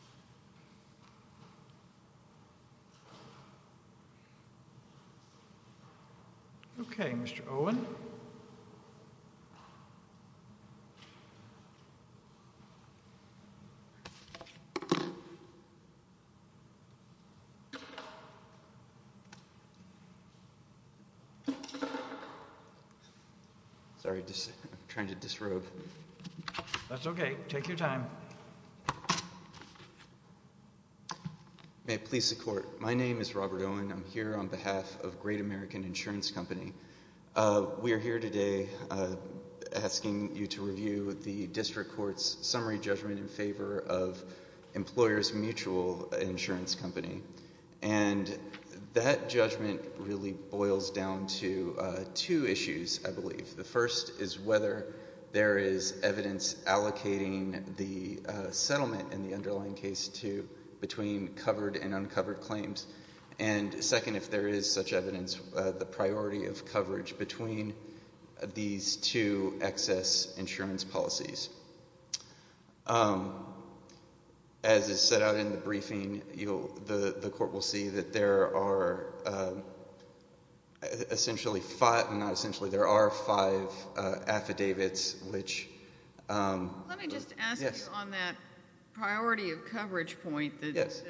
9. I'm trying to disrobe. That's OK. Take your time. Please support. My name is Robert Owen. I'm here on behalf of Great American Insurance Company. We are here today asking you to review the district court's summary judgment in favor of employers mutual insurance company. And that judgment really boils down to two issues. I believe the first is whether there is evidence allocating the settlement in the underlying case to between covered and uncovered claims. And second, if there is such evidence, the priority of coverage between these two excess insurance policies. As is set out in the briefing, the court will see that there are essentially five, not essentially, there are five affidavits which Let me just ask you on that priority of coverage point. Yes.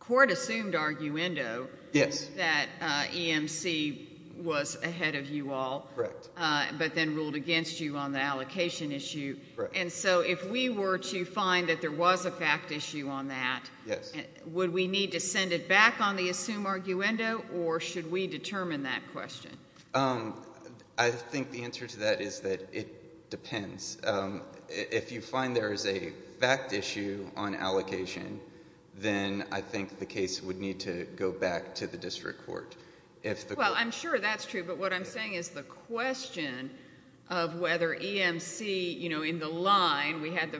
Court assumed arguendo. Yes. That EMC was ahead of you all. Correct. But then ruled against you on the allocation issue. And so if we were to find that there was a fact issue on that. Yes. Would we need to send it back on the assumed arguendo or should we determine that question? I think the answer to that is that it depends. If you find there is a fact issue on allocation, then I think the case would need to go back to the district court. Well, I'm sure that's true. But what I'm saying is the question of whether EMC, you know, in the line, we had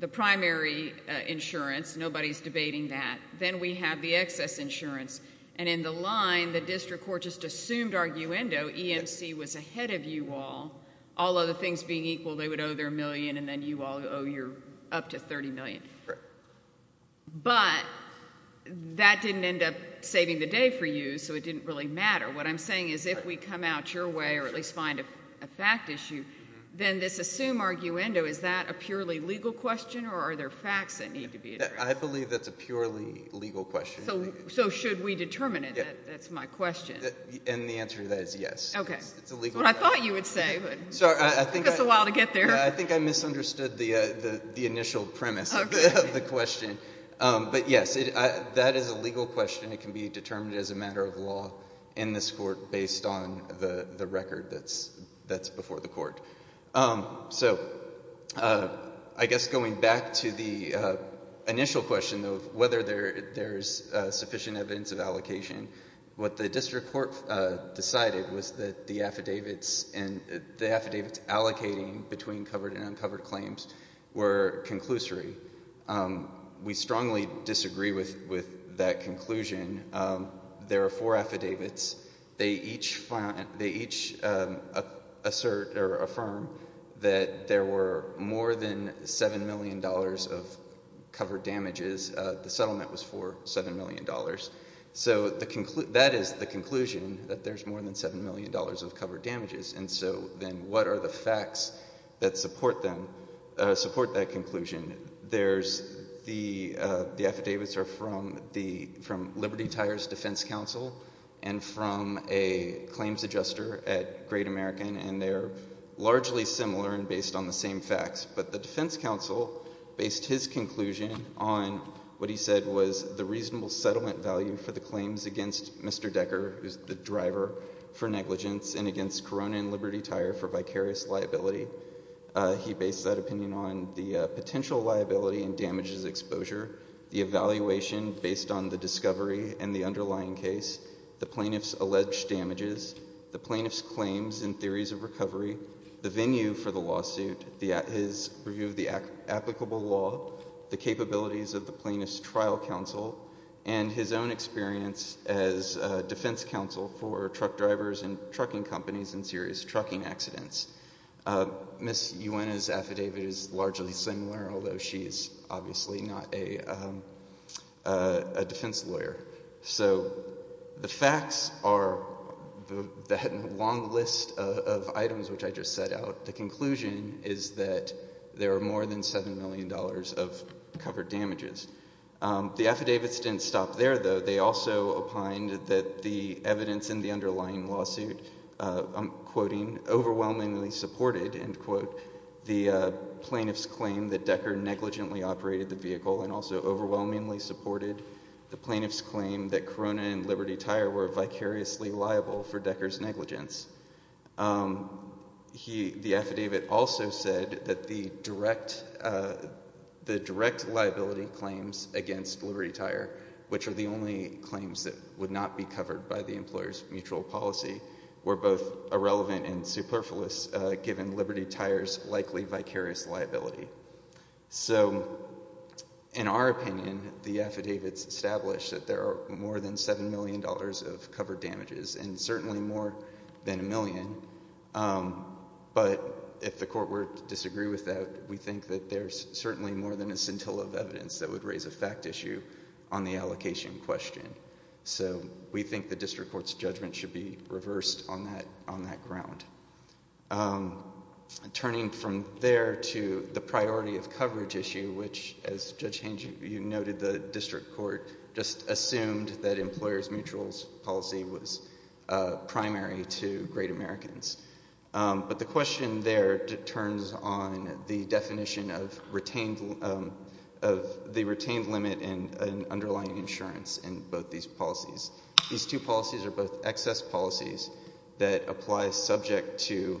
the primary insurance. Nobody's debating that. Then we have the excess insurance. And in the line, the district court just assumed arguendo. EMC was ahead of you all. All other things being equal, they would owe their million, and then you all owe your up to $30 million. Correct. But that didn't end up saving the day for you, so it didn't really matter. What I'm saying is if we come out your way or at least find a fact issue, then this assumed arguendo, is that a purely legal question or are there facts that need to be addressed? I believe that's a purely legal question. So should we determine it? That's my question. And the answer to that is yes. Okay. That's what I thought you would say, but it took us a while to get there. I think I misunderstood the initial premise of the question. But, yes, that is a legal question. It can be determined as a matter of law in this court based on the record that's before the court. So I guess going back to the initial question of whether there is sufficient evidence of allocation, what the district court decided was that the affidavits and the affidavits allocating between covered and uncovered claims were conclusory. We strongly disagree with that conclusion. There are four affidavits. They each assert or affirm that there were more than $7 million of covered damages. The settlement was for $7 million. So that is the conclusion, that there's more than $7 million of covered damages. And so then what are the facts that support that conclusion? The affidavits are from Liberty Tire's defense counsel and from a claims adjuster at Great American, and they're largely similar and based on the same facts. But the defense counsel based his conclusion on what he said was the reasonable settlement value for the claims against Mr. Decker, who is the driver for negligence, and against Corona and Liberty Tire for vicarious liability. He based that opinion on the potential liability and damages exposure, the evaluation based on the discovery and the underlying case, the plaintiff's alleged damages, the plaintiff's claims and theories of recovery, the venue for the lawsuit, his review of the applicable law, the capabilities of the plaintiff's trial counsel, and his own experience as defense counsel for truck drivers and trucking companies in serious trucking accidents. Ms. Uena's affidavit is largely similar, although she is obviously not a defense lawyer. So the facts are that long list of items which I just set out. The conclusion is that there are more than $7 million of covered damages. The affidavits didn't stop there, though. They also opined that the evidence in the underlying lawsuit, I'm quoting, overwhelmingly supported, end quote, the plaintiff's claim that Decker negligently operated the vehicle and also overwhelmingly supported the plaintiff's claim that Corona and Liberty Tire were vicariously liable for Decker's negligence. The affidavit also said that the direct liability claims against Liberty Tire, which are the only claims that would not be covered by the employer's mutual policy, were both irrelevant and superfluous given Liberty Tire's likely vicarious liability. So in our opinion, the affidavits establish that there are more than $7 million of covered damages and certainly more than a million, but if the court were to disagree with that, we think that there's certainly more than a scintilla of evidence that would raise a fact issue on the allocation question. So we think the district court's judgment should be reversed on that ground. Turning from there to the priority of coverage issue, which, as Judge Hange, you noted, the district court just assumed that employer's mutual policy was primary to great Americans. But the question there turns on the definition of the retained limit and underlying insurance in both these policies. These two policies are both excess policies that apply subject to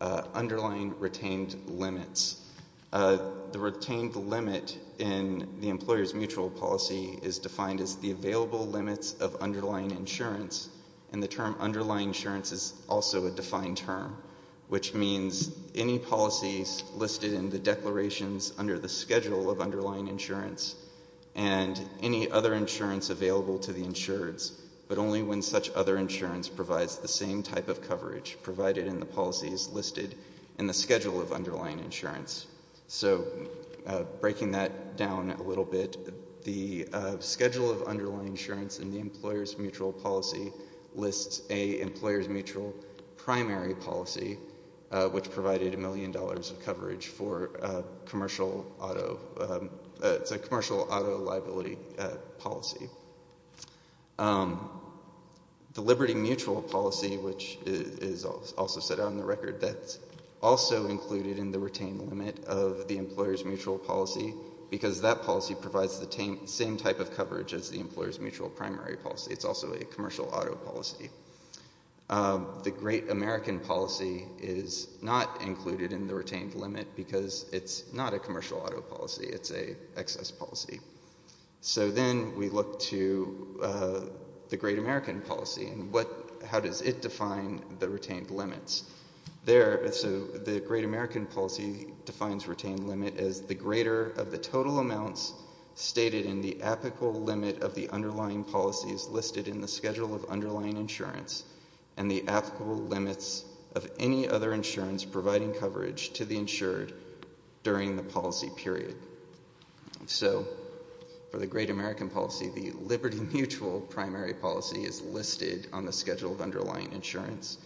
underlying retained limits. The retained limit in the employer's mutual policy is defined as the available limits of underlying insurance, and the term underlying insurance is also a defined term, which means any policies listed in the declarations under the schedule of underlying insurance and any other insurance available to the insureds, but only when such other insurance provides the same type of coverage provided in the policies listed in the schedule of underlying insurance. So breaking that down a little bit, the schedule of underlying insurance in the employer's mutual policy lists a employer's mutual primary policy, which provided a million dollars of coverage for commercial auto liability policy. The liberty mutual policy, which is also set out in the record, that's also included in the retained limit of the employer's mutual policy because that policy provides the same type of coverage as the employer's mutual primary policy. It's also a commercial auto policy. The great American policy is not included in the retained limit because it's not a commercial auto policy. It's an excess policy. So then we look to the great American policy, and how does it define the retained limits? The great American policy defines retained limit as the greater of the total amounts stated in the applicable limit of the underlying policies listed in the schedule of underlying insurance and the applicable limits of any other insurance providing coverage to the insured during the policy period. So for the great American policy, the liberty mutual primary policy is listed on the schedule of underlying insurance,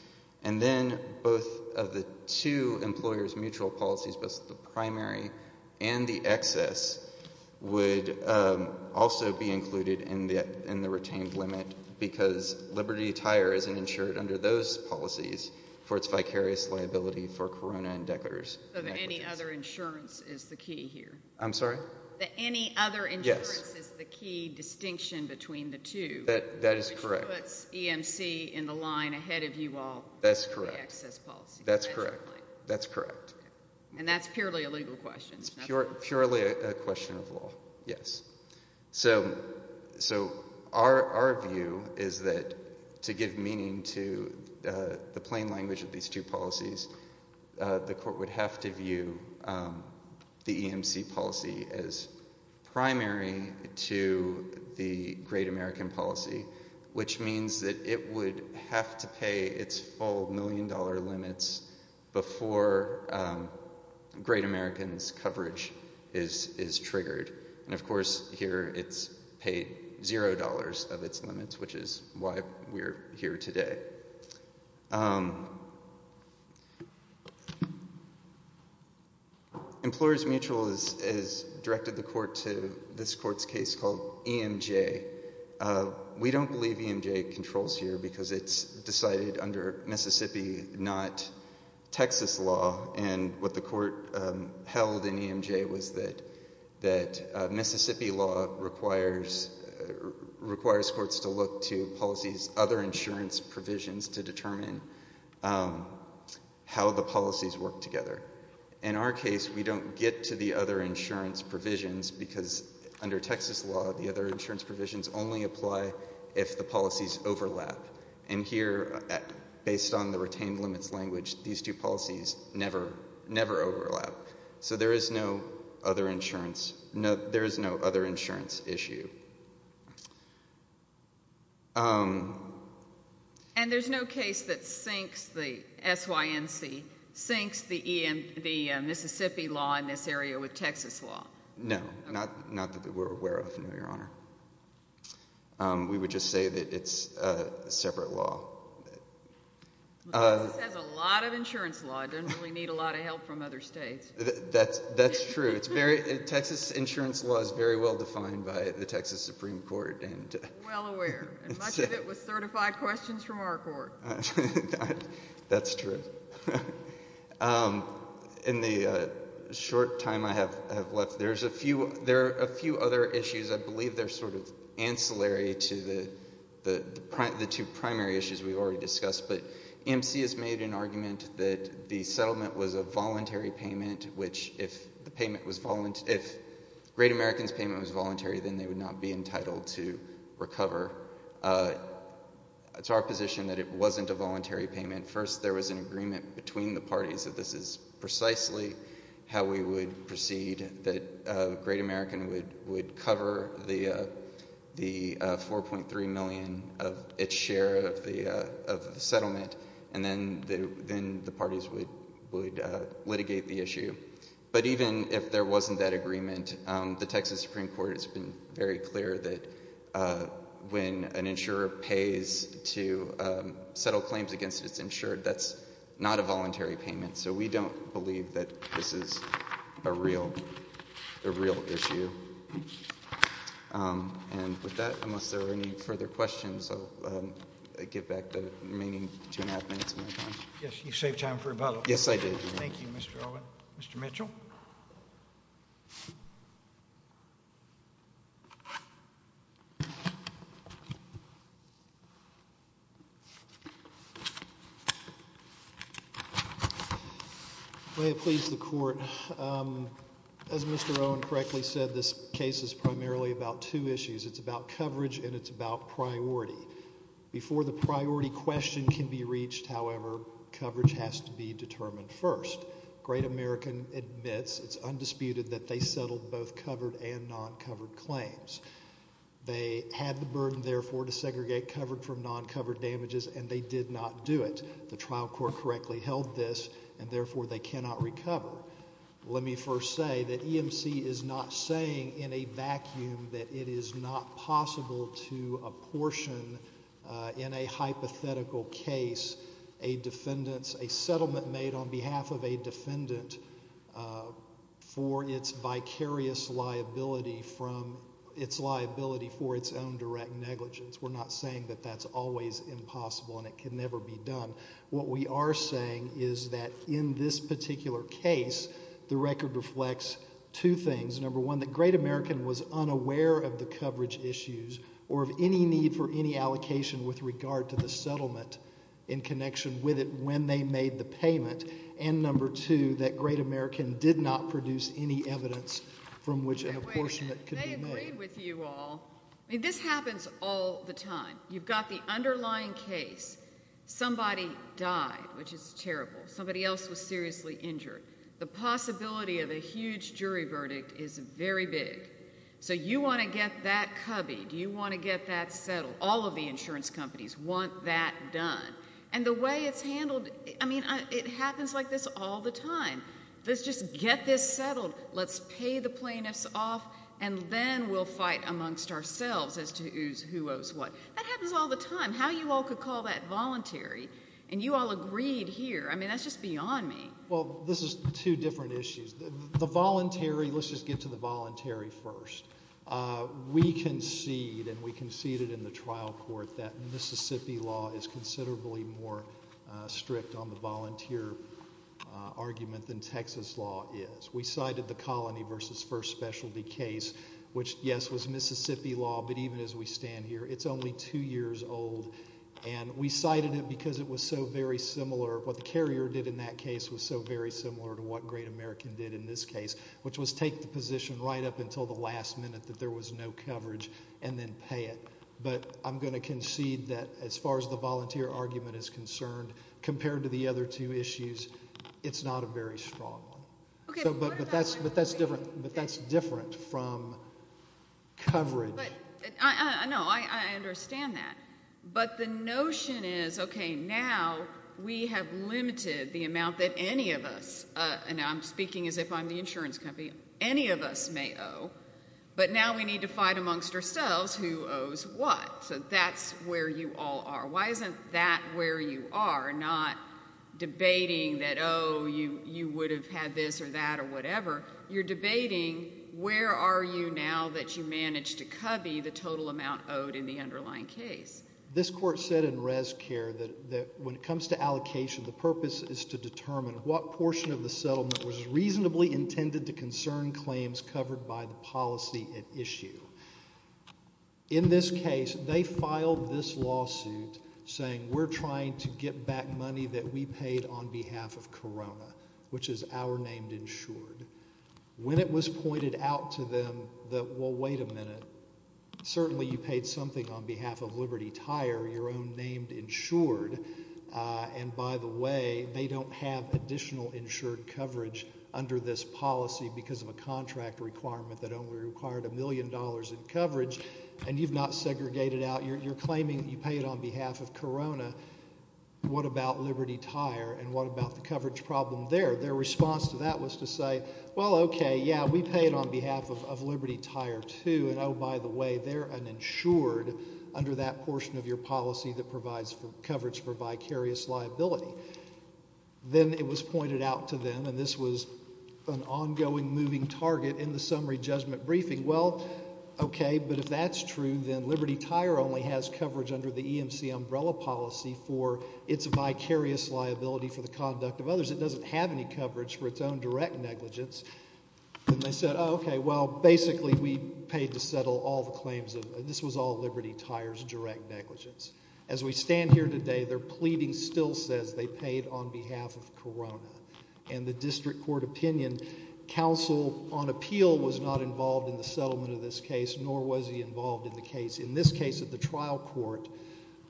and then both of the two employers' mutual policies, both the primary and the excess, would also be included in the retained limit because Liberty Tire isn't insured under those policies for its vicarious liability for corona and decorators. So the any other insurance is the key here. I'm sorry? The any other insurance is the key distinction between the two. That is correct. Which puts EMC in the line ahead of you all. That's correct. The excess policy. That's correct. And that's purely a legal question. It's purely a question of law, yes. So our view is that to give meaning to the plain language of these two policies, the court would have to view the EMC policy as primary to the great American policy, which means that it would have to pay its full million-dollar limits before great American's coverage is triggered. And, of course, here it's paid zero dollars of its limits, which is why we're here today. Employers' mutual has directed the court to this court's case called EMJ. We don't believe EMJ controls here because it's decided under Mississippi, not Texas law, and what the court held in EMJ was that Mississippi law requires courts to look to policies, other insurance provisions to determine how the policies work together. In our case, we don't get to the other insurance provisions because under Texas law, the other insurance provisions only apply if the policies overlap. And here, based on the retained limits language, these two policies never overlap. So there is no other insurance issue. And there's no case that syncs the SYNC, syncs the Mississippi law in this area with Texas law? No, not that we're aware of, no, Your Honor. We would just say that it's a separate law. Texas has a lot of insurance law. It doesn't really need a lot of help from other states. That's true. Texas insurance law is very well defined by the Texas Supreme Court. Well aware. And much of it was certified questions from our court. That's true. In the short time I have left, there are a few other issues. I believe they're sort of ancillary to the two primary issues we've already discussed. But EMC has made an argument that the settlement was a voluntary payment, which if the payment was voluntary, if Great American's payment was voluntary, then they would not be entitled to recover. It's our position that it wasn't a voluntary payment. First, there was an agreement between the parties that this is precisely how we would proceed, that Great American would cover the $4.3 million of its share of the settlement, and then the parties would litigate the issue. But even if there wasn't that agreement, the Texas Supreme Court has been very clear that when an insurer pays to settle claims against its insured, that's not a voluntary payment. So we don't believe that this is a real issue. And with that, unless there are any further questions, I'll give back the remaining two and a half minutes of my time. Yes, you saved time for rebuttal. Yes, I did. Thank you, Mr. Owen. Mr. Mitchell. May it please the Court, as Mr. Owen correctly said, this case is primarily about two issues. It's about coverage and it's about priority. Before the priority question can be reached, however, coverage has to be determined first. Great American admits it's undisputed that they settled both covered and non-covered claims. They had the burden, therefore, to segregate covered from non-covered damages, and they did not do it. The trial court correctly held this, and therefore they cannot recover. Let me first say that EMC is not saying in a vacuum that it is not possible to apportion in a hypothetical case a settlement made on behalf of a defendant for its vicarious liability from its liability for its own direct negligence. We're not saying that that's always impossible and it can never be done. What we are saying is that in this particular case, the record reflects two things. Number one, that Great American was unaware of the coverage issues or of any need for any allocation with regard to the settlement in connection with it when they made the payment. And number two, that Great American did not produce any evidence from which an apportionment could be made. Wait a minute. They agreed with you all. I mean, this happens all the time. You've got the underlying case. Somebody died, which is terrible. Somebody else was seriously injured. The possibility of a huge jury verdict is very big. So you want to get that cubby. Do you want to get that settled? All of the insurance companies want that done. And the way it's handled, I mean, it happens like this all the time. Let's just get this settled. Let's pay the plaintiffs off, and then we'll fight amongst ourselves as to who owes what. That happens all the time. How you all could call that voluntary, and you all agreed here, I mean, that's just beyond me. Well, this is two different issues. The voluntary, let's just get to the voluntary first. We concede, and we conceded in the trial court, that Mississippi law is considerably more strict on the volunteer argument than Texas law is. We cited the Colony v. First Specialty case, which, yes, was Mississippi law, but even as we stand here, it's only two years old. And we cited it because it was so very similar, what the carrier did in that case was so very similar to what Great American did in this case, which was take the position right up until the last minute that there was no coverage and then pay it. But I'm going to concede that as far as the volunteer argument is concerned, compared to the other two issues, it's not a very strong one. But that's different from coverage. No, I understand that. But the notion is, okay, now we have limited the amount that any of us, and I'm speaking as if I'm the insurance company, any of us may owe, but now we need to fight amongst ourselves who owes what. So that's where you all are. Why isn't that where you are, not debating that, oh, you would have had this or that or whatever? You're debating where are you now that you managed to cubby the total amount owed in the underlying case? This court said in ResCare that when it comes to allocation, the purpose is to determine what portion of the settlement was reasonably intended to concern claims covered by the policy at issue. In this case, they filed this lawsuit saying we're trying to get back money that we paid on behalf of Corona, which is our named insured. When it was pointed out to them that, well, wait a minute, certainly you paid something on behalf of Liberty Tire, your own named insured, and by the way, they don't have additional insured coverage under this policy because of a contract requirement that only required a million dollars in coverage, and you've not segregated out, you're claiming you paid on behalf of Corona. What about Liberty Tire, and what about the coverage problem there? Their response to that was to say, well, okay, yeah, we paid on behalf of Liberty Tire, too, and, oh, by the way, they're an insured under that portion of your policy that provides coverage for vicarious liability. Then it was pointed out to them, and this was an ongoing moving target in the summary judgment briefing, well, okay, but if that's true, then Liberty Tire only has coverage under the EMC umbrella policy for its vicarious liability for the conduct of others. It doesn't have any coverage for its own direct negligence. Then they said, oh, okay, well, basically we paid to settle all the claims of, this was all Liberty Tire's direct negligence. As we stand here today, their pleading still says they paid on behalf of Corona, and the district court opinion counsel on appeal was not involved in the settlement of this case, nor was he involved in the case. In this case at the trial court,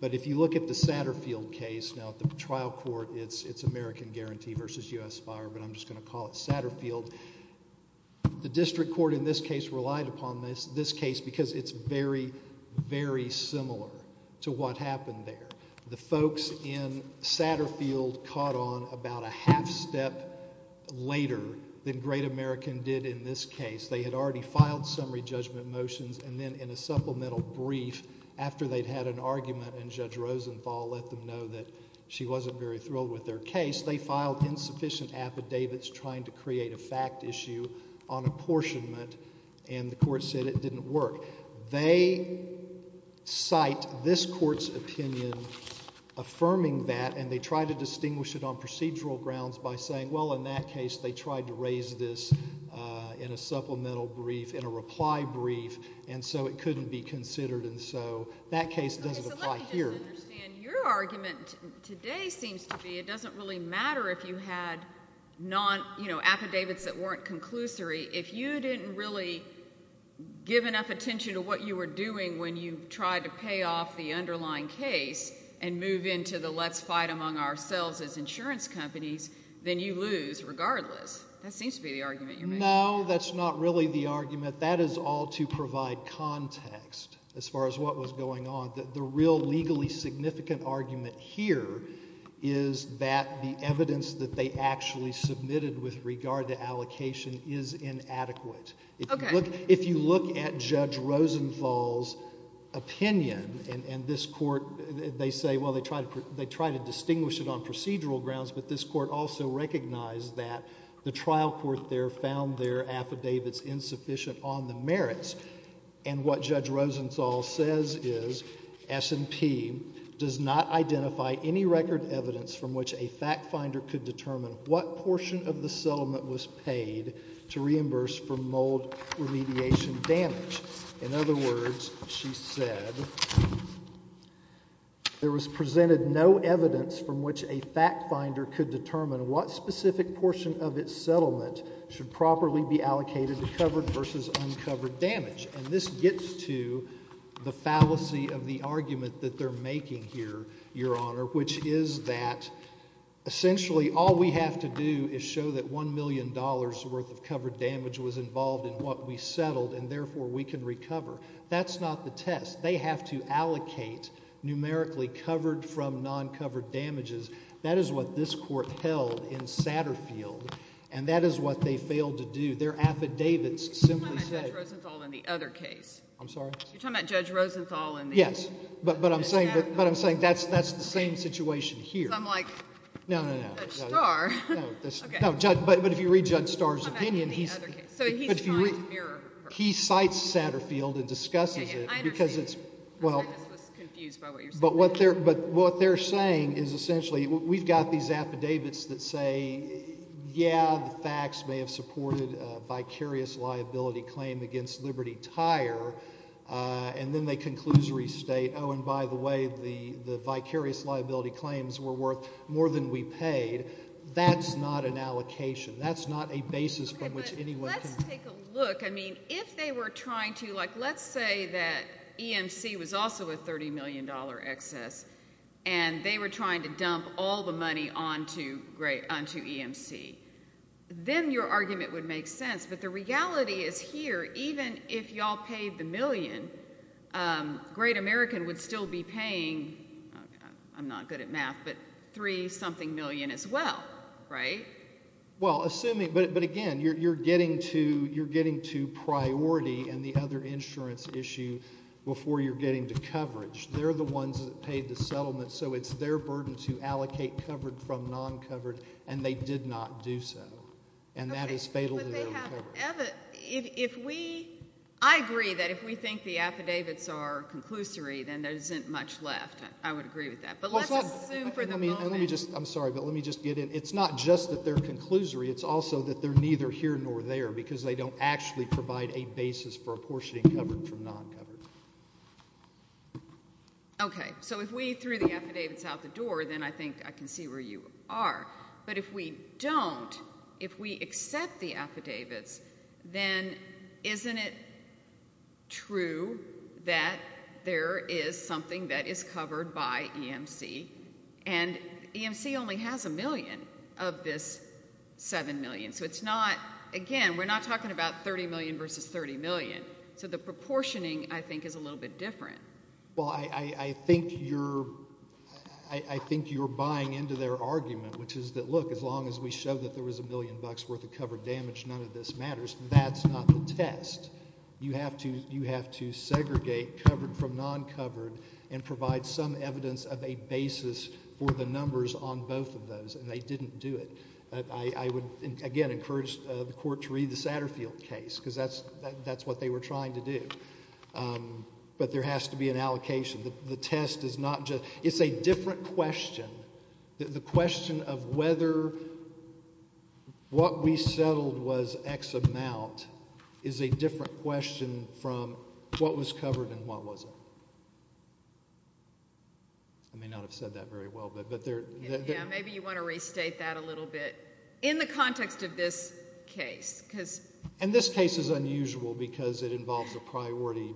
but if you look at the Satterfield case, now at the trial court it's American Guarantee versus U.S. Fire, but I'm just going to call it Satterfield. The district court in this case relied upon this case because it's very, very similar to what happened there. The folks in Satterfield caught on about a half step later than Great American did in this case. They had already filed summary judgment motions, and then in a supplemental brief, after they'd had an argument and Judge Rosenthal let them know that she wasn't very thrilled with their case, they filed insufficient affidavits trying to create a fact issue on apportionment, and the court said it didn't work. They cite this court's opinion affirming that, and they try to distinguish it on procedural grounds by saying, well, in that case they tried to raise this in a supplemental brief, in a reply brief, and so it couldn't be considered, and so that case doesn't apply here. Your argument today seems to be it doesn't really matter if you had affidavits that weren't conclusory. If you didn't really give enough attention to what you were doing when you tried to pay off the underlying case and move into the let's fight among ourselves as insurance companies, then you lose regardless. That seems to be the argument you're making. No, that's not really the argument. That is all to provide context as far as what was going on. The real legally significant argument here is that the evidence that they actually submitted with regard to allocation is inadequate. Okay. If you look at Judge Rosenthal's opinion and this court, they say, well, they try to distinguish it on procedural grounds, but this court also recognized that the trial court there found their affidavits insufficient on the merits, and what Judge Rosenthal says is S&P does not identify any record evidence from which a fact finder could determine what portion of the settlement was paid to reimburse for mold remediation damage. In other words, she said there was presented no evidence from which a fact finder could determine what specific portion of its settlement should properly be allocated to covered versus uncovered damage. And this gets to the fallacy of the argument that they're making here, Your Honor, which is that essentially all we have to do is show that $1 million worth of covered damage was involved in what we settled and therefore we can recover. That's not the test. They have to allocate numerically covered from non-covered damages. That is what this court held in Satterfield, and that is what they failed to do. Their affidavits simply said— You're talking about Judge Rosenthal in the other case. I'm sorry? You're talking about Judge Rosenthal in the— Yes, but I'm saying that's the same situation here. Because I'm like, Judge Starr— No, no, no. Okay. But if you read Judge Starr's opinion, he's— He cites Satterfield and discusses it because it's— Yeah, yeah. I understand. I just was confused by what you're saying. But what they're saying is essentially we've got these affidavits that say, yeah, the facts may have supported a vicarious liability claim against Liberty Tire, and then they conclusory state, oh, and by the way, the vicarious liability claims were worth more than we paid. That's not an allocation. That's not a basis from which anyone can— Okay, but let's take a look. I mean, if they were trying to— Like, let's say that EMC was also a $30 million excess, and they were trying to dump all the money onto EMC. Then your argument would make sense. But the reality is here, even if y'all paid the million, Great American would still be paying—I'm not good at math, but three-something million as well, right? Well, assuming—but again, you're getting to priority and the other insurance issue before you're getting to coverage. They're the ones that paid the settlement, so it's their burden to allocate covered from non-covered, and they did not do so, and that is fatal to their own coverage. Okay, but they have—I agree that if we think the affidavits are conclusory, then there isn't much left. I would agree with that. But let's assume for the moment— I'm sorry, but let me just get in. It's not just that they're conclusory. It's also that they're neither here nor there because they don't actually provide a basis for apportioning covered from non-covered. Okay, so if we threw the affidavits out the door, then I think I can see where you are. But if we don't, if we accept the affidavits, then isn't it true that there is something that is covered by EMC? And EMC only has $1 million of this $7 million. So it's not—again, we're not talking about $30 million versus $30 million. So the proportioning, I think, is a little bit different. Well, I think you're—I think you're buying into their argument, which is that, look, as long as we show that there was $1 million worth of covered damage, none of this matters. That's not the test. You have to segregate covered from non-covered and provide some evidence of a basis for the numbers on both of those. And they didn't do it. I would, again, encourage the Court to read the Satterfield case because that's what they were trying to do. But there has to be an allocation. The test is not just—it's a different question. The question of whether what we settled was X amount is a different question from what was covered and what wasn't. I may not have said that very well, but there— Yeah, maybe you want to restate that a little bit in the context of this case. And this case is unusual because it involves a priority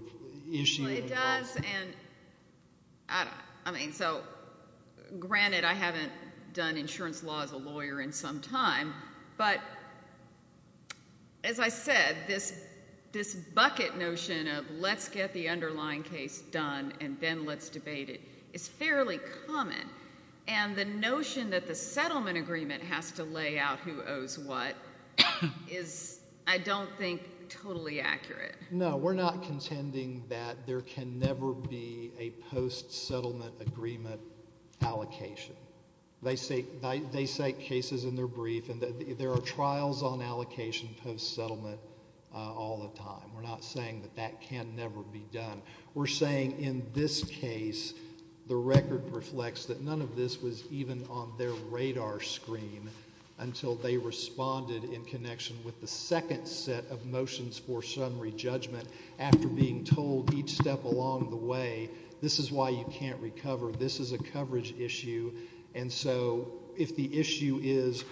issue. Well, it does, and I mean, so granted I haven't done insurance law as a lawyer in some time, but as I said, this bucket notion of let's get the underlying case done and then let's debate it is fairly common. And the notion that the settlement agreement has to lay out who owes what is, I don't think, totally accurate. No, we're not contending that there can never be a post-settlement agreement allocation. They cite cases in their brief, and there are trials on allocation post-settlement all the time. We're not saying that that can never be done. We're saying in this case, the record reflects that none of this was even on their radar screen until they responded in connection with the second set of motions for summary judgment after being told each step along the way, this is why you can't recover, this is a coverage issue. And so if the issue is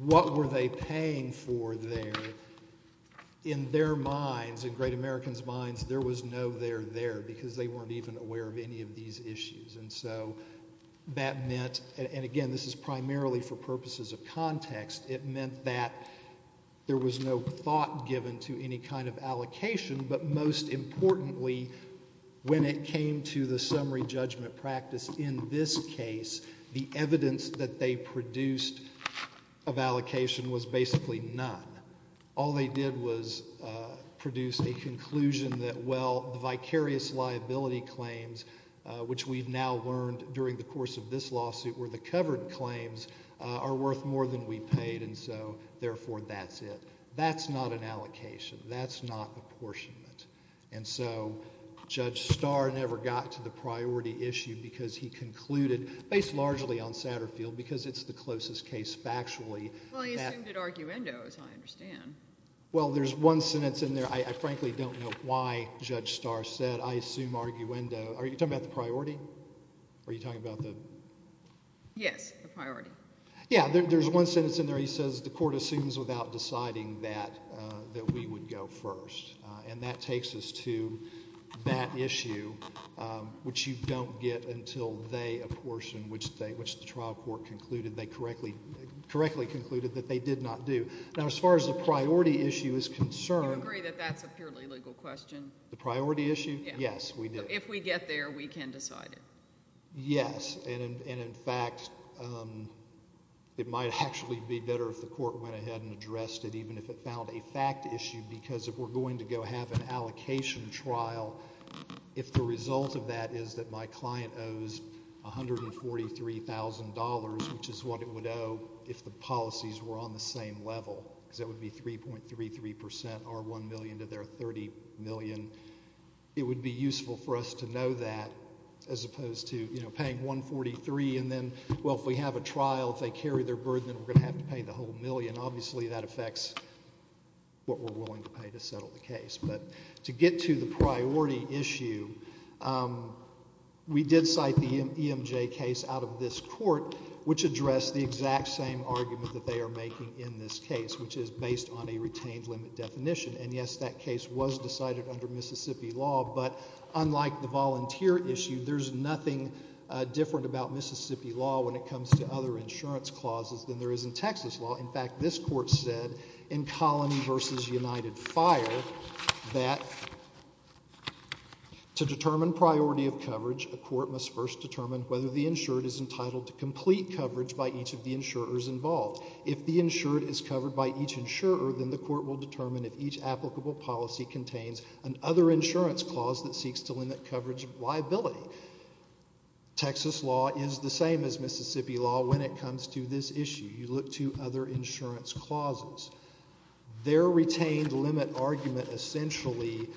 what were they paying for there, in their minds, in great Americans' minds, there was no there there because they weren't even aware of any of these issues. And so that meant, and again, this is primarily for purposes of context, it meant that there was no thought given to any kind of allocation. But most importantly, when it came to the summary judgment practice in this case, the evidence that they produced of allocation was basically none. All they did was produce a conclusion that, well, the vicarious liability claims, which we've now learned during the course of this lawsuit were the covered claims, are worth more than we paid, and so therefore that's it. That's not an allocation. That's not apportionment. And so Judge Starr never got to the priority issue because he concluded, based largely on Satterfield because it's the closest case factually. Well, he assumed it arguendo, as I understand. Well, there's one sentence in there. I frankly don't know why Judge Starr said, I assume arguendo. Are you talking about the priority? Are you talking about the? Yes, the priority. Yeah, there's one sentence in there. He says the court assumes without deciding that we would go first. And that takes us to that issue, which you don't get until they apportion, which the trial court correctly concluded that they did not do. Now, as far as the priority issue is concerned. Do you agree that that's a purely legal question? The priority issue? Yes, we do. If we get there, we can decide it. Yes, and in fact, it might actually be better if the court went ahead and addressed it even if it found a fact issue because if we're going to go have an allocation trial, if the result of that is that my client owes $143,000, which is what it would owe if the policies were on the same level, because that would be 3.33%, our $1 million to their $30 million, it would be useful for us to know that as opposed to paying $143,000 and then, well, if we have a trial, if they carry their burden, then we're going to have to pay the whole million. Obviously, that affects what we're willing to pay to settle the case. But to get to the priority issue, we did cite the EMJ case out of this court, which addressed the exact same argument that they are making in this case, which is based on a retained limit definition, and yes, that case was decided under Mississippi law, but unlike the volunteer issue, there's nothing different about Mississippi law when it comes to other insurance clauses than there is in Texas law. In fact, this court said in Colony v. United Fire that to determine priority of coverage, a court must first determine whether the insured is entitled to complete coverage by each of the insurers involved. If the insured is covered by each insurer, then the court will determine if each applicable policy contains an other insurance clause that seeks to limit coverage liability. Texas law is the same as Mississippi law when it comes to this issue. You look to other insurance clauses. Their retained limit argument essentially,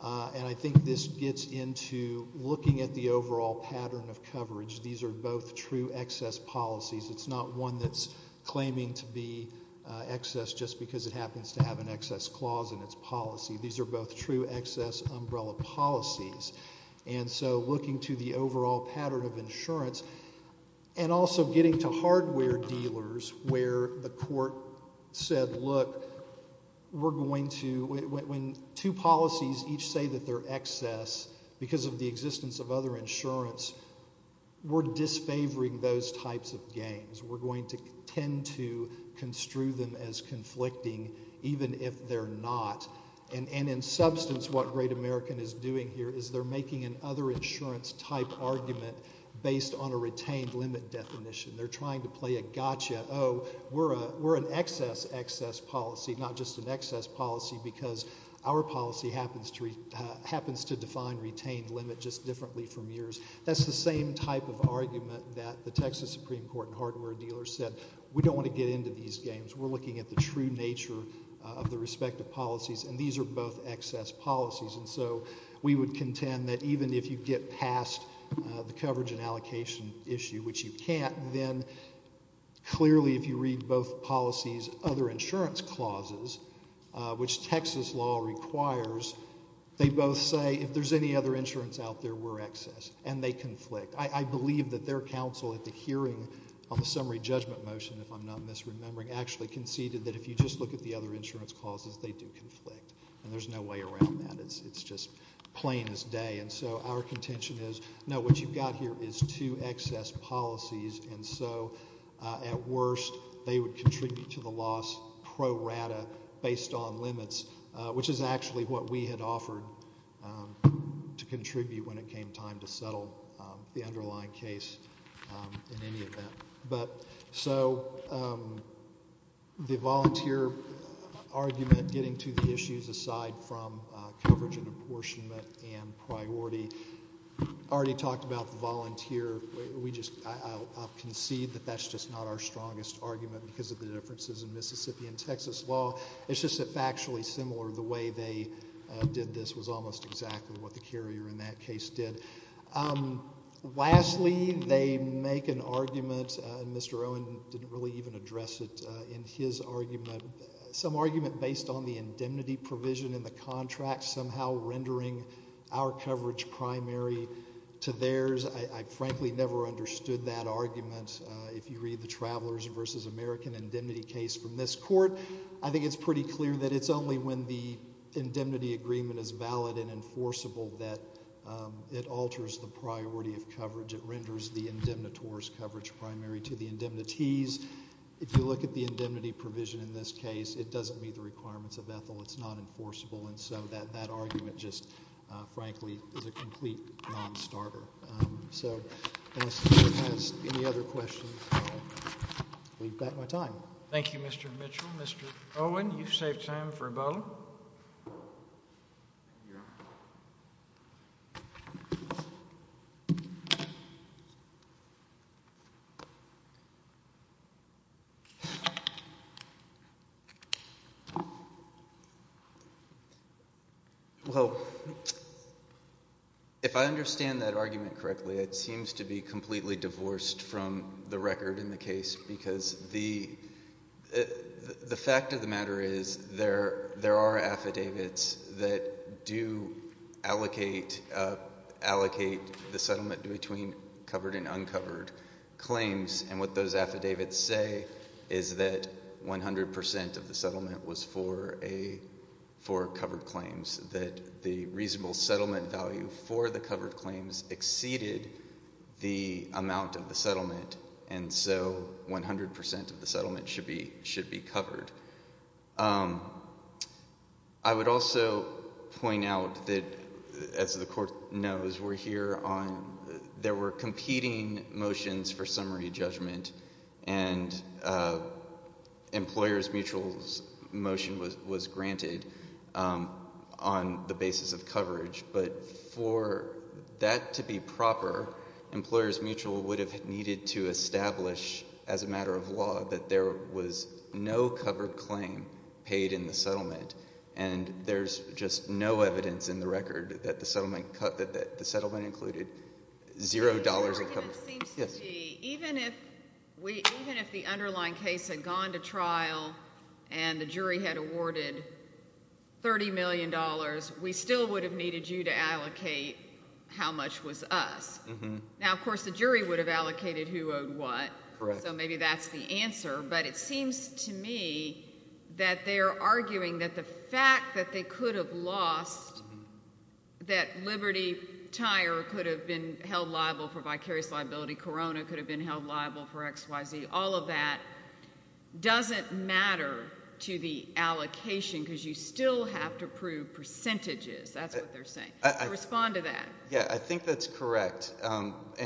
and I think this gets into looking at the overall pattern of coverage. These are both true excess policies. It's not one that's claiming to be excess just because it happens to have an excess clause in its policy. These are both true excess umbrella policies. And so looking to the overall pattern of insurance and also getting to hardware dealers where the court said, look, we're going to, when two policies each say that they're excess because of the existence of other insurance, we're disfavoring those types of games. We're going to tend to construe them as conflicting even if they're not. And in substance, what Great American is doing here is they're making an other insurance type argument based on a retained limit definition. They're trying to play a gotcha, oh, we're an excess, excess policy, not just an excess policy because our policy happens to define retained limit just differently from yours. That's the same type of argument that the Texas Supreme Court and hardware dealers said. We don't want to get into these games. We're looking at the true nature of the respective policies, and these are both excess policies. And so we would contend that even if you get past the coverage and allocation issue, which you can't, then clearly if you read both policies' other insurance clauses, which Texas law requires, they both say if there's any other insurance out there, we're excess, and they conflict. I believe that their counsel at the hearing on the summary judgment motion, if I'm not misremembering, actually conceded that if you just look at the other insurance clauses, they do conflict, and there's no way around that. It's just plain as day. And so our contention is, no, what you've got here is two excess policies, and so at worst they would contribute to the loss pro rata based on limits, which is actually what we had offered to contribute when it came time to settle the underlying case in any event. So the volunteer argument getting to the issues aside from coverage and apportionment and priority, we already talked about the volunteer. I concede that that's just not our strongest argument because of the differences in Mississippi and Texas law. It's just that factually similar, the way they did this was almost exactly what the carrier in that case did. Lastly, they make an argument, and Mr. Owen didn't really even address it in his argument, some argument based on the indemnity provision in the contract somehow rendering our coverage primary to theirs. I frankly never understood that argument. If you read the Travelers v. American Indemnity case from this court, I think it's pretty clear that it's only when the indemnity agreement is valid and enforceable that it alters the priority of coverage. It renders the indemnitores coverage primary to the indemnities. If you look at the indemnity provision in this case, it doesn't meet the requirements of Ethel. It's not enforceable, and so that argument just, frankly, is a complete nonstarter. So unless anyone has any other questions, I'll leave that in my time. Thank you, Mr. Mitchell. Mr. Owen, you've saved time for a bow. Well, if I understand that argument correctly, it seems to be completely divorced from the record in the case because the fact of the matter is there are affidavits that do allocate the settlement between covered and uncovered claims, and what those affidavits say is that 100% of the settlement was for covered claims, that the reasonable settlement value for the covered claims exceeded the amount of the settlement, and so 100% of the settlement should be covered. I would also point out that, as the Court knows, we're here on... There were competing motions for summary judgment, and Employers Mutual's motion was granted on the basis of coverage, but for that to be proper, Employers Mutual would have needed to establish, as a matter of law, that there was no covered claim paid in the settlement, and there's just no evidence in the record that the settlement included zero dollars of coverage. It seems to me, even if the underlying case had gone to trial and the jury had awarded $30 million, we still would have needed you to allocate how much was us. Now, of course, the jury would have allocated who owed what, so maybe that's the answer, but it seems to me that they're arguing that the fact that they could have lost, that Liberty Tire could have been held liable for vicarious liability, Corona could have been held liable for X, Y, Z, all of that doesn't matter to the allocation because you still have to prove percentages. That's what they're saying. Respond to that. Yeah, I think that's correct,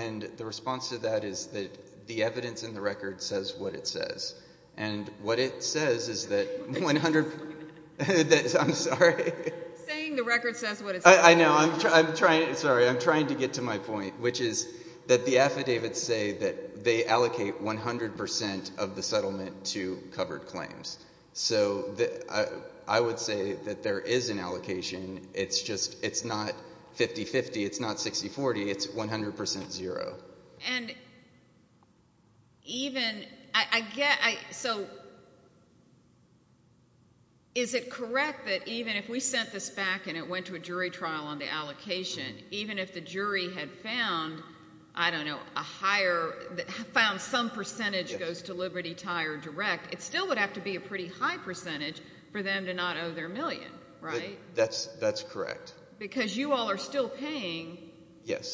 and the response to that is that the evidence in the record says what it says, and what it says is that 100... I'm sorry. You're saying the record says what it says. I know. I'm trying to get to my point, which is that the affidavits say that they allocate 100% of the settlement to covered claims, so I would say that there is an allocation. It's not 50-50. It's not 60-40. It's 100% zero. And even... So is it correct that even if we sent this back and it went to a jury trial on the allocation, even if the jury had found, I don't know, a higher... found some percentage goes to Liberty Tire Direct, it still would have to be a pretty high percentage for them to not owe their million, right? That's correct. Because you all are still paying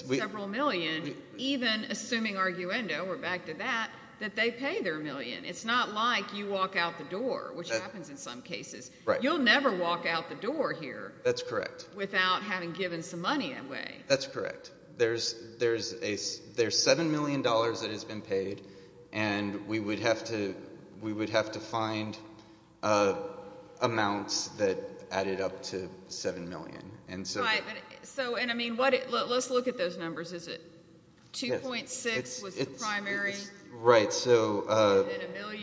several million, even assuming arguendo, we're back to that, that they pay their million. It's not like you walk out the door, which happens in some cases. You'll never walk out the door here. That's correct. Without having given some money away. That's correct. There's $7 million that has been paid, and we would have to find amounts that added up to $7 million. Right. Let's look at those numbers. Is it 2.6 was the primary? Right. So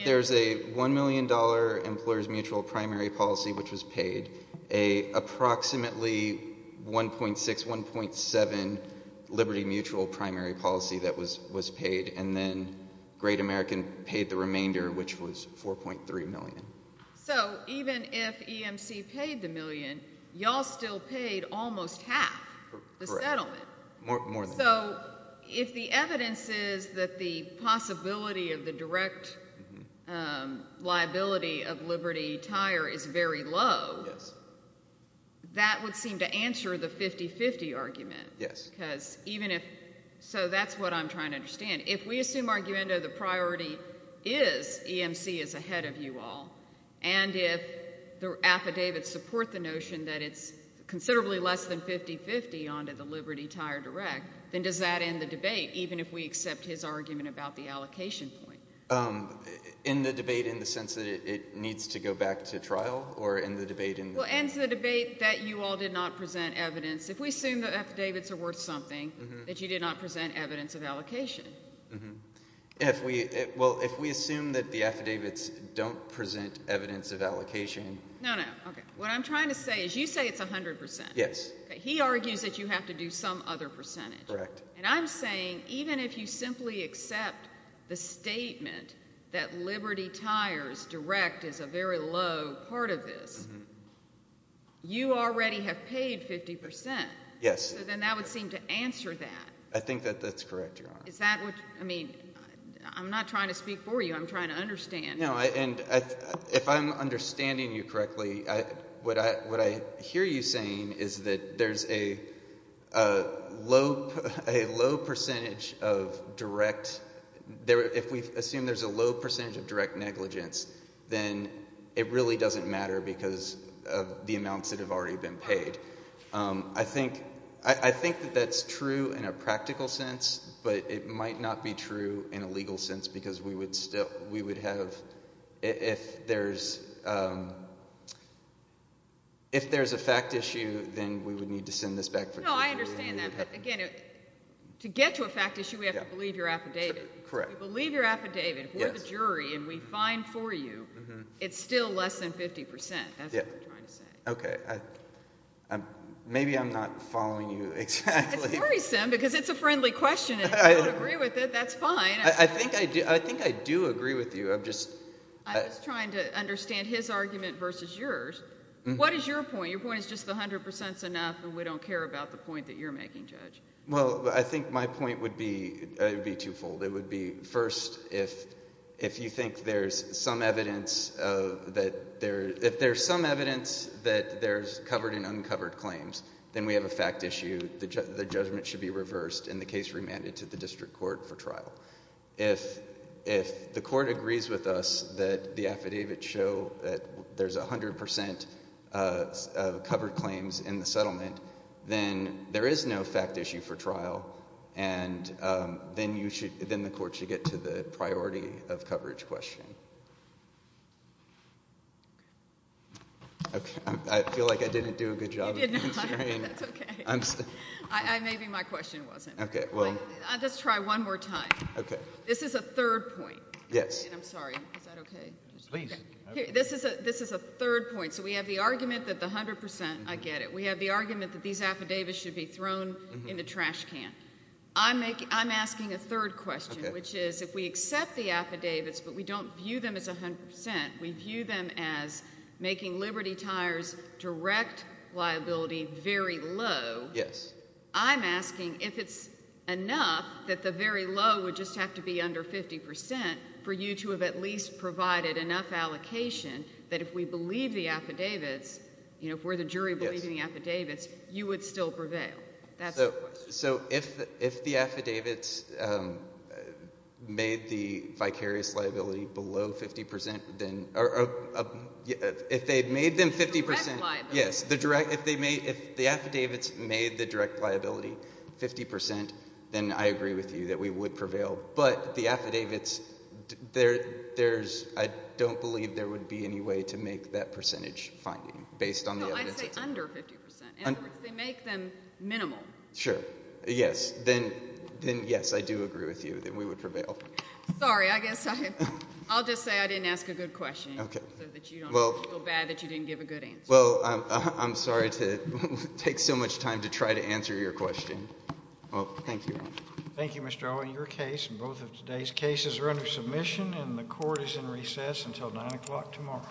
there's a $1 million employer's mutual primary policy, which was paid, approximately 1.6, 1.7 Liberty Mutual primary policy that was paid, and then Great American paid the remainder, which was 4.3 million. So even if EMC paid the million, you all still paid almost half the settlement. More than half. So if the evidence is that the possibility of the direct liability of Liberty Tire is very low, that would seem to answer the 50-50 argument. Yes. So that's what I'm trying to understand. If we assume arguendo the priority is, EMC is ahead of you all, and if the affidavits support the notion that it's considerably less than 50-50 onto the Liberty Tire Direct, then does that end the debate, even if we accept his argument about the allocation point? End the debate in the sense that it needs to go back to trial, or end the debate in the... Well, end the debate that you all did not present evidence. If we assume the affidavits are worth something, that you did not present evidence of allocation. Mm-hmm. Well, if we assume that the affidavits don't present evidence of allocation... No, no, okay. What I'm trying to say is you say it's 100%. Yes. He argues that you have to do some other percentage. Correct. And I'm saying even if you simply accept the statement that Liberty Tire's Direct is a very low part of this, you already have paid 50%. Yes. So then that would seem to answer that. I think that that's correct, Your Honor. Is that what... I mean, I'm not trying to speak for you. I'm trying to understand. No, and if I'm understanding you correctly, what I hear you saying is that there's a low... a low percentage of direct... If we assume there's a low percentage of direct negligence, then it really doesn't matter because of the amounts that have already been paid. I think that that's true in a practical sense, but it might not be true in a legal sense because we would have... If there's a fact issue, then we would need to send this back for... No, I understand that. Again, to get to a fact issue, we have to believe your affidavit. Correct. We believe your affidavit. If we're the jury and we find for you, it's still less than 50%. That's what I'm trying to say. Okay. Maybe I'm not following you exactly. It's worrisome because it's a friendly question and if you don't agree with it, that's fine. I think I do agree with you. I'm just... I'm just trying to understand his argument versus yours. What is your point? Your point is just the 100% is enough and we don't care about the point that you're making, Judge. Well, I think my point would be twofold. It would be, first, if you think there's some evidence of... If there's some evidence that there's covered and uncovered claims, then we have a fact issue. The judgment should be reversed and the case remanded to the district court for trial. If the court agrees with us that the affidavits show that there's 100% covered claims in the settlement, then there is no fact issue for trial and then the court should get to the priority of coverage question. I feel like I didn't do a good job. You did not, but that's okay. Maybe my question wasn't. Let's try one more time. This is a third point. I'm sorry. Is that okay? This is a third point. So we have the argument that the 100%... I get it. We have the argument that these affidavits should be thrown in the trash can. I'm asking a third question, which is if we accept the affidavits but we don't view them as 100%, we view them as making Liberty Tire's direct liability very low, I'm asking if it's enough that the very low would just have to be under 50% for you to have at least provided enough allocation that if we believe the affidavits, if we're the jury believing the affidavits, you would still prevail. That's the question. So if the affidavits made the vicarious liability below 50%, if they made them 50%... The direct liability. Yes. If the affidavits made the direct liability 50%, then I agree with you that we would prevail. But the affidavits, there's... I don't believe there would be any way to make that percentage finding based on the evidence. No, I'd say under 50%. In other words, they make them minimal. Sure. Yes. Then, yes, I do agree with you that we would prevail. Sorry, I guess I'll just say I didn't ask a good question so that you don't feel bad that you didn't give a good answer. Well, I'm sorry to take so much time to try to answer your question. Well, thank you. Thank you, Mr. Owen. Your case and both of today's cases are under submission, and the court is in recess until 9 o'clock tomorrow.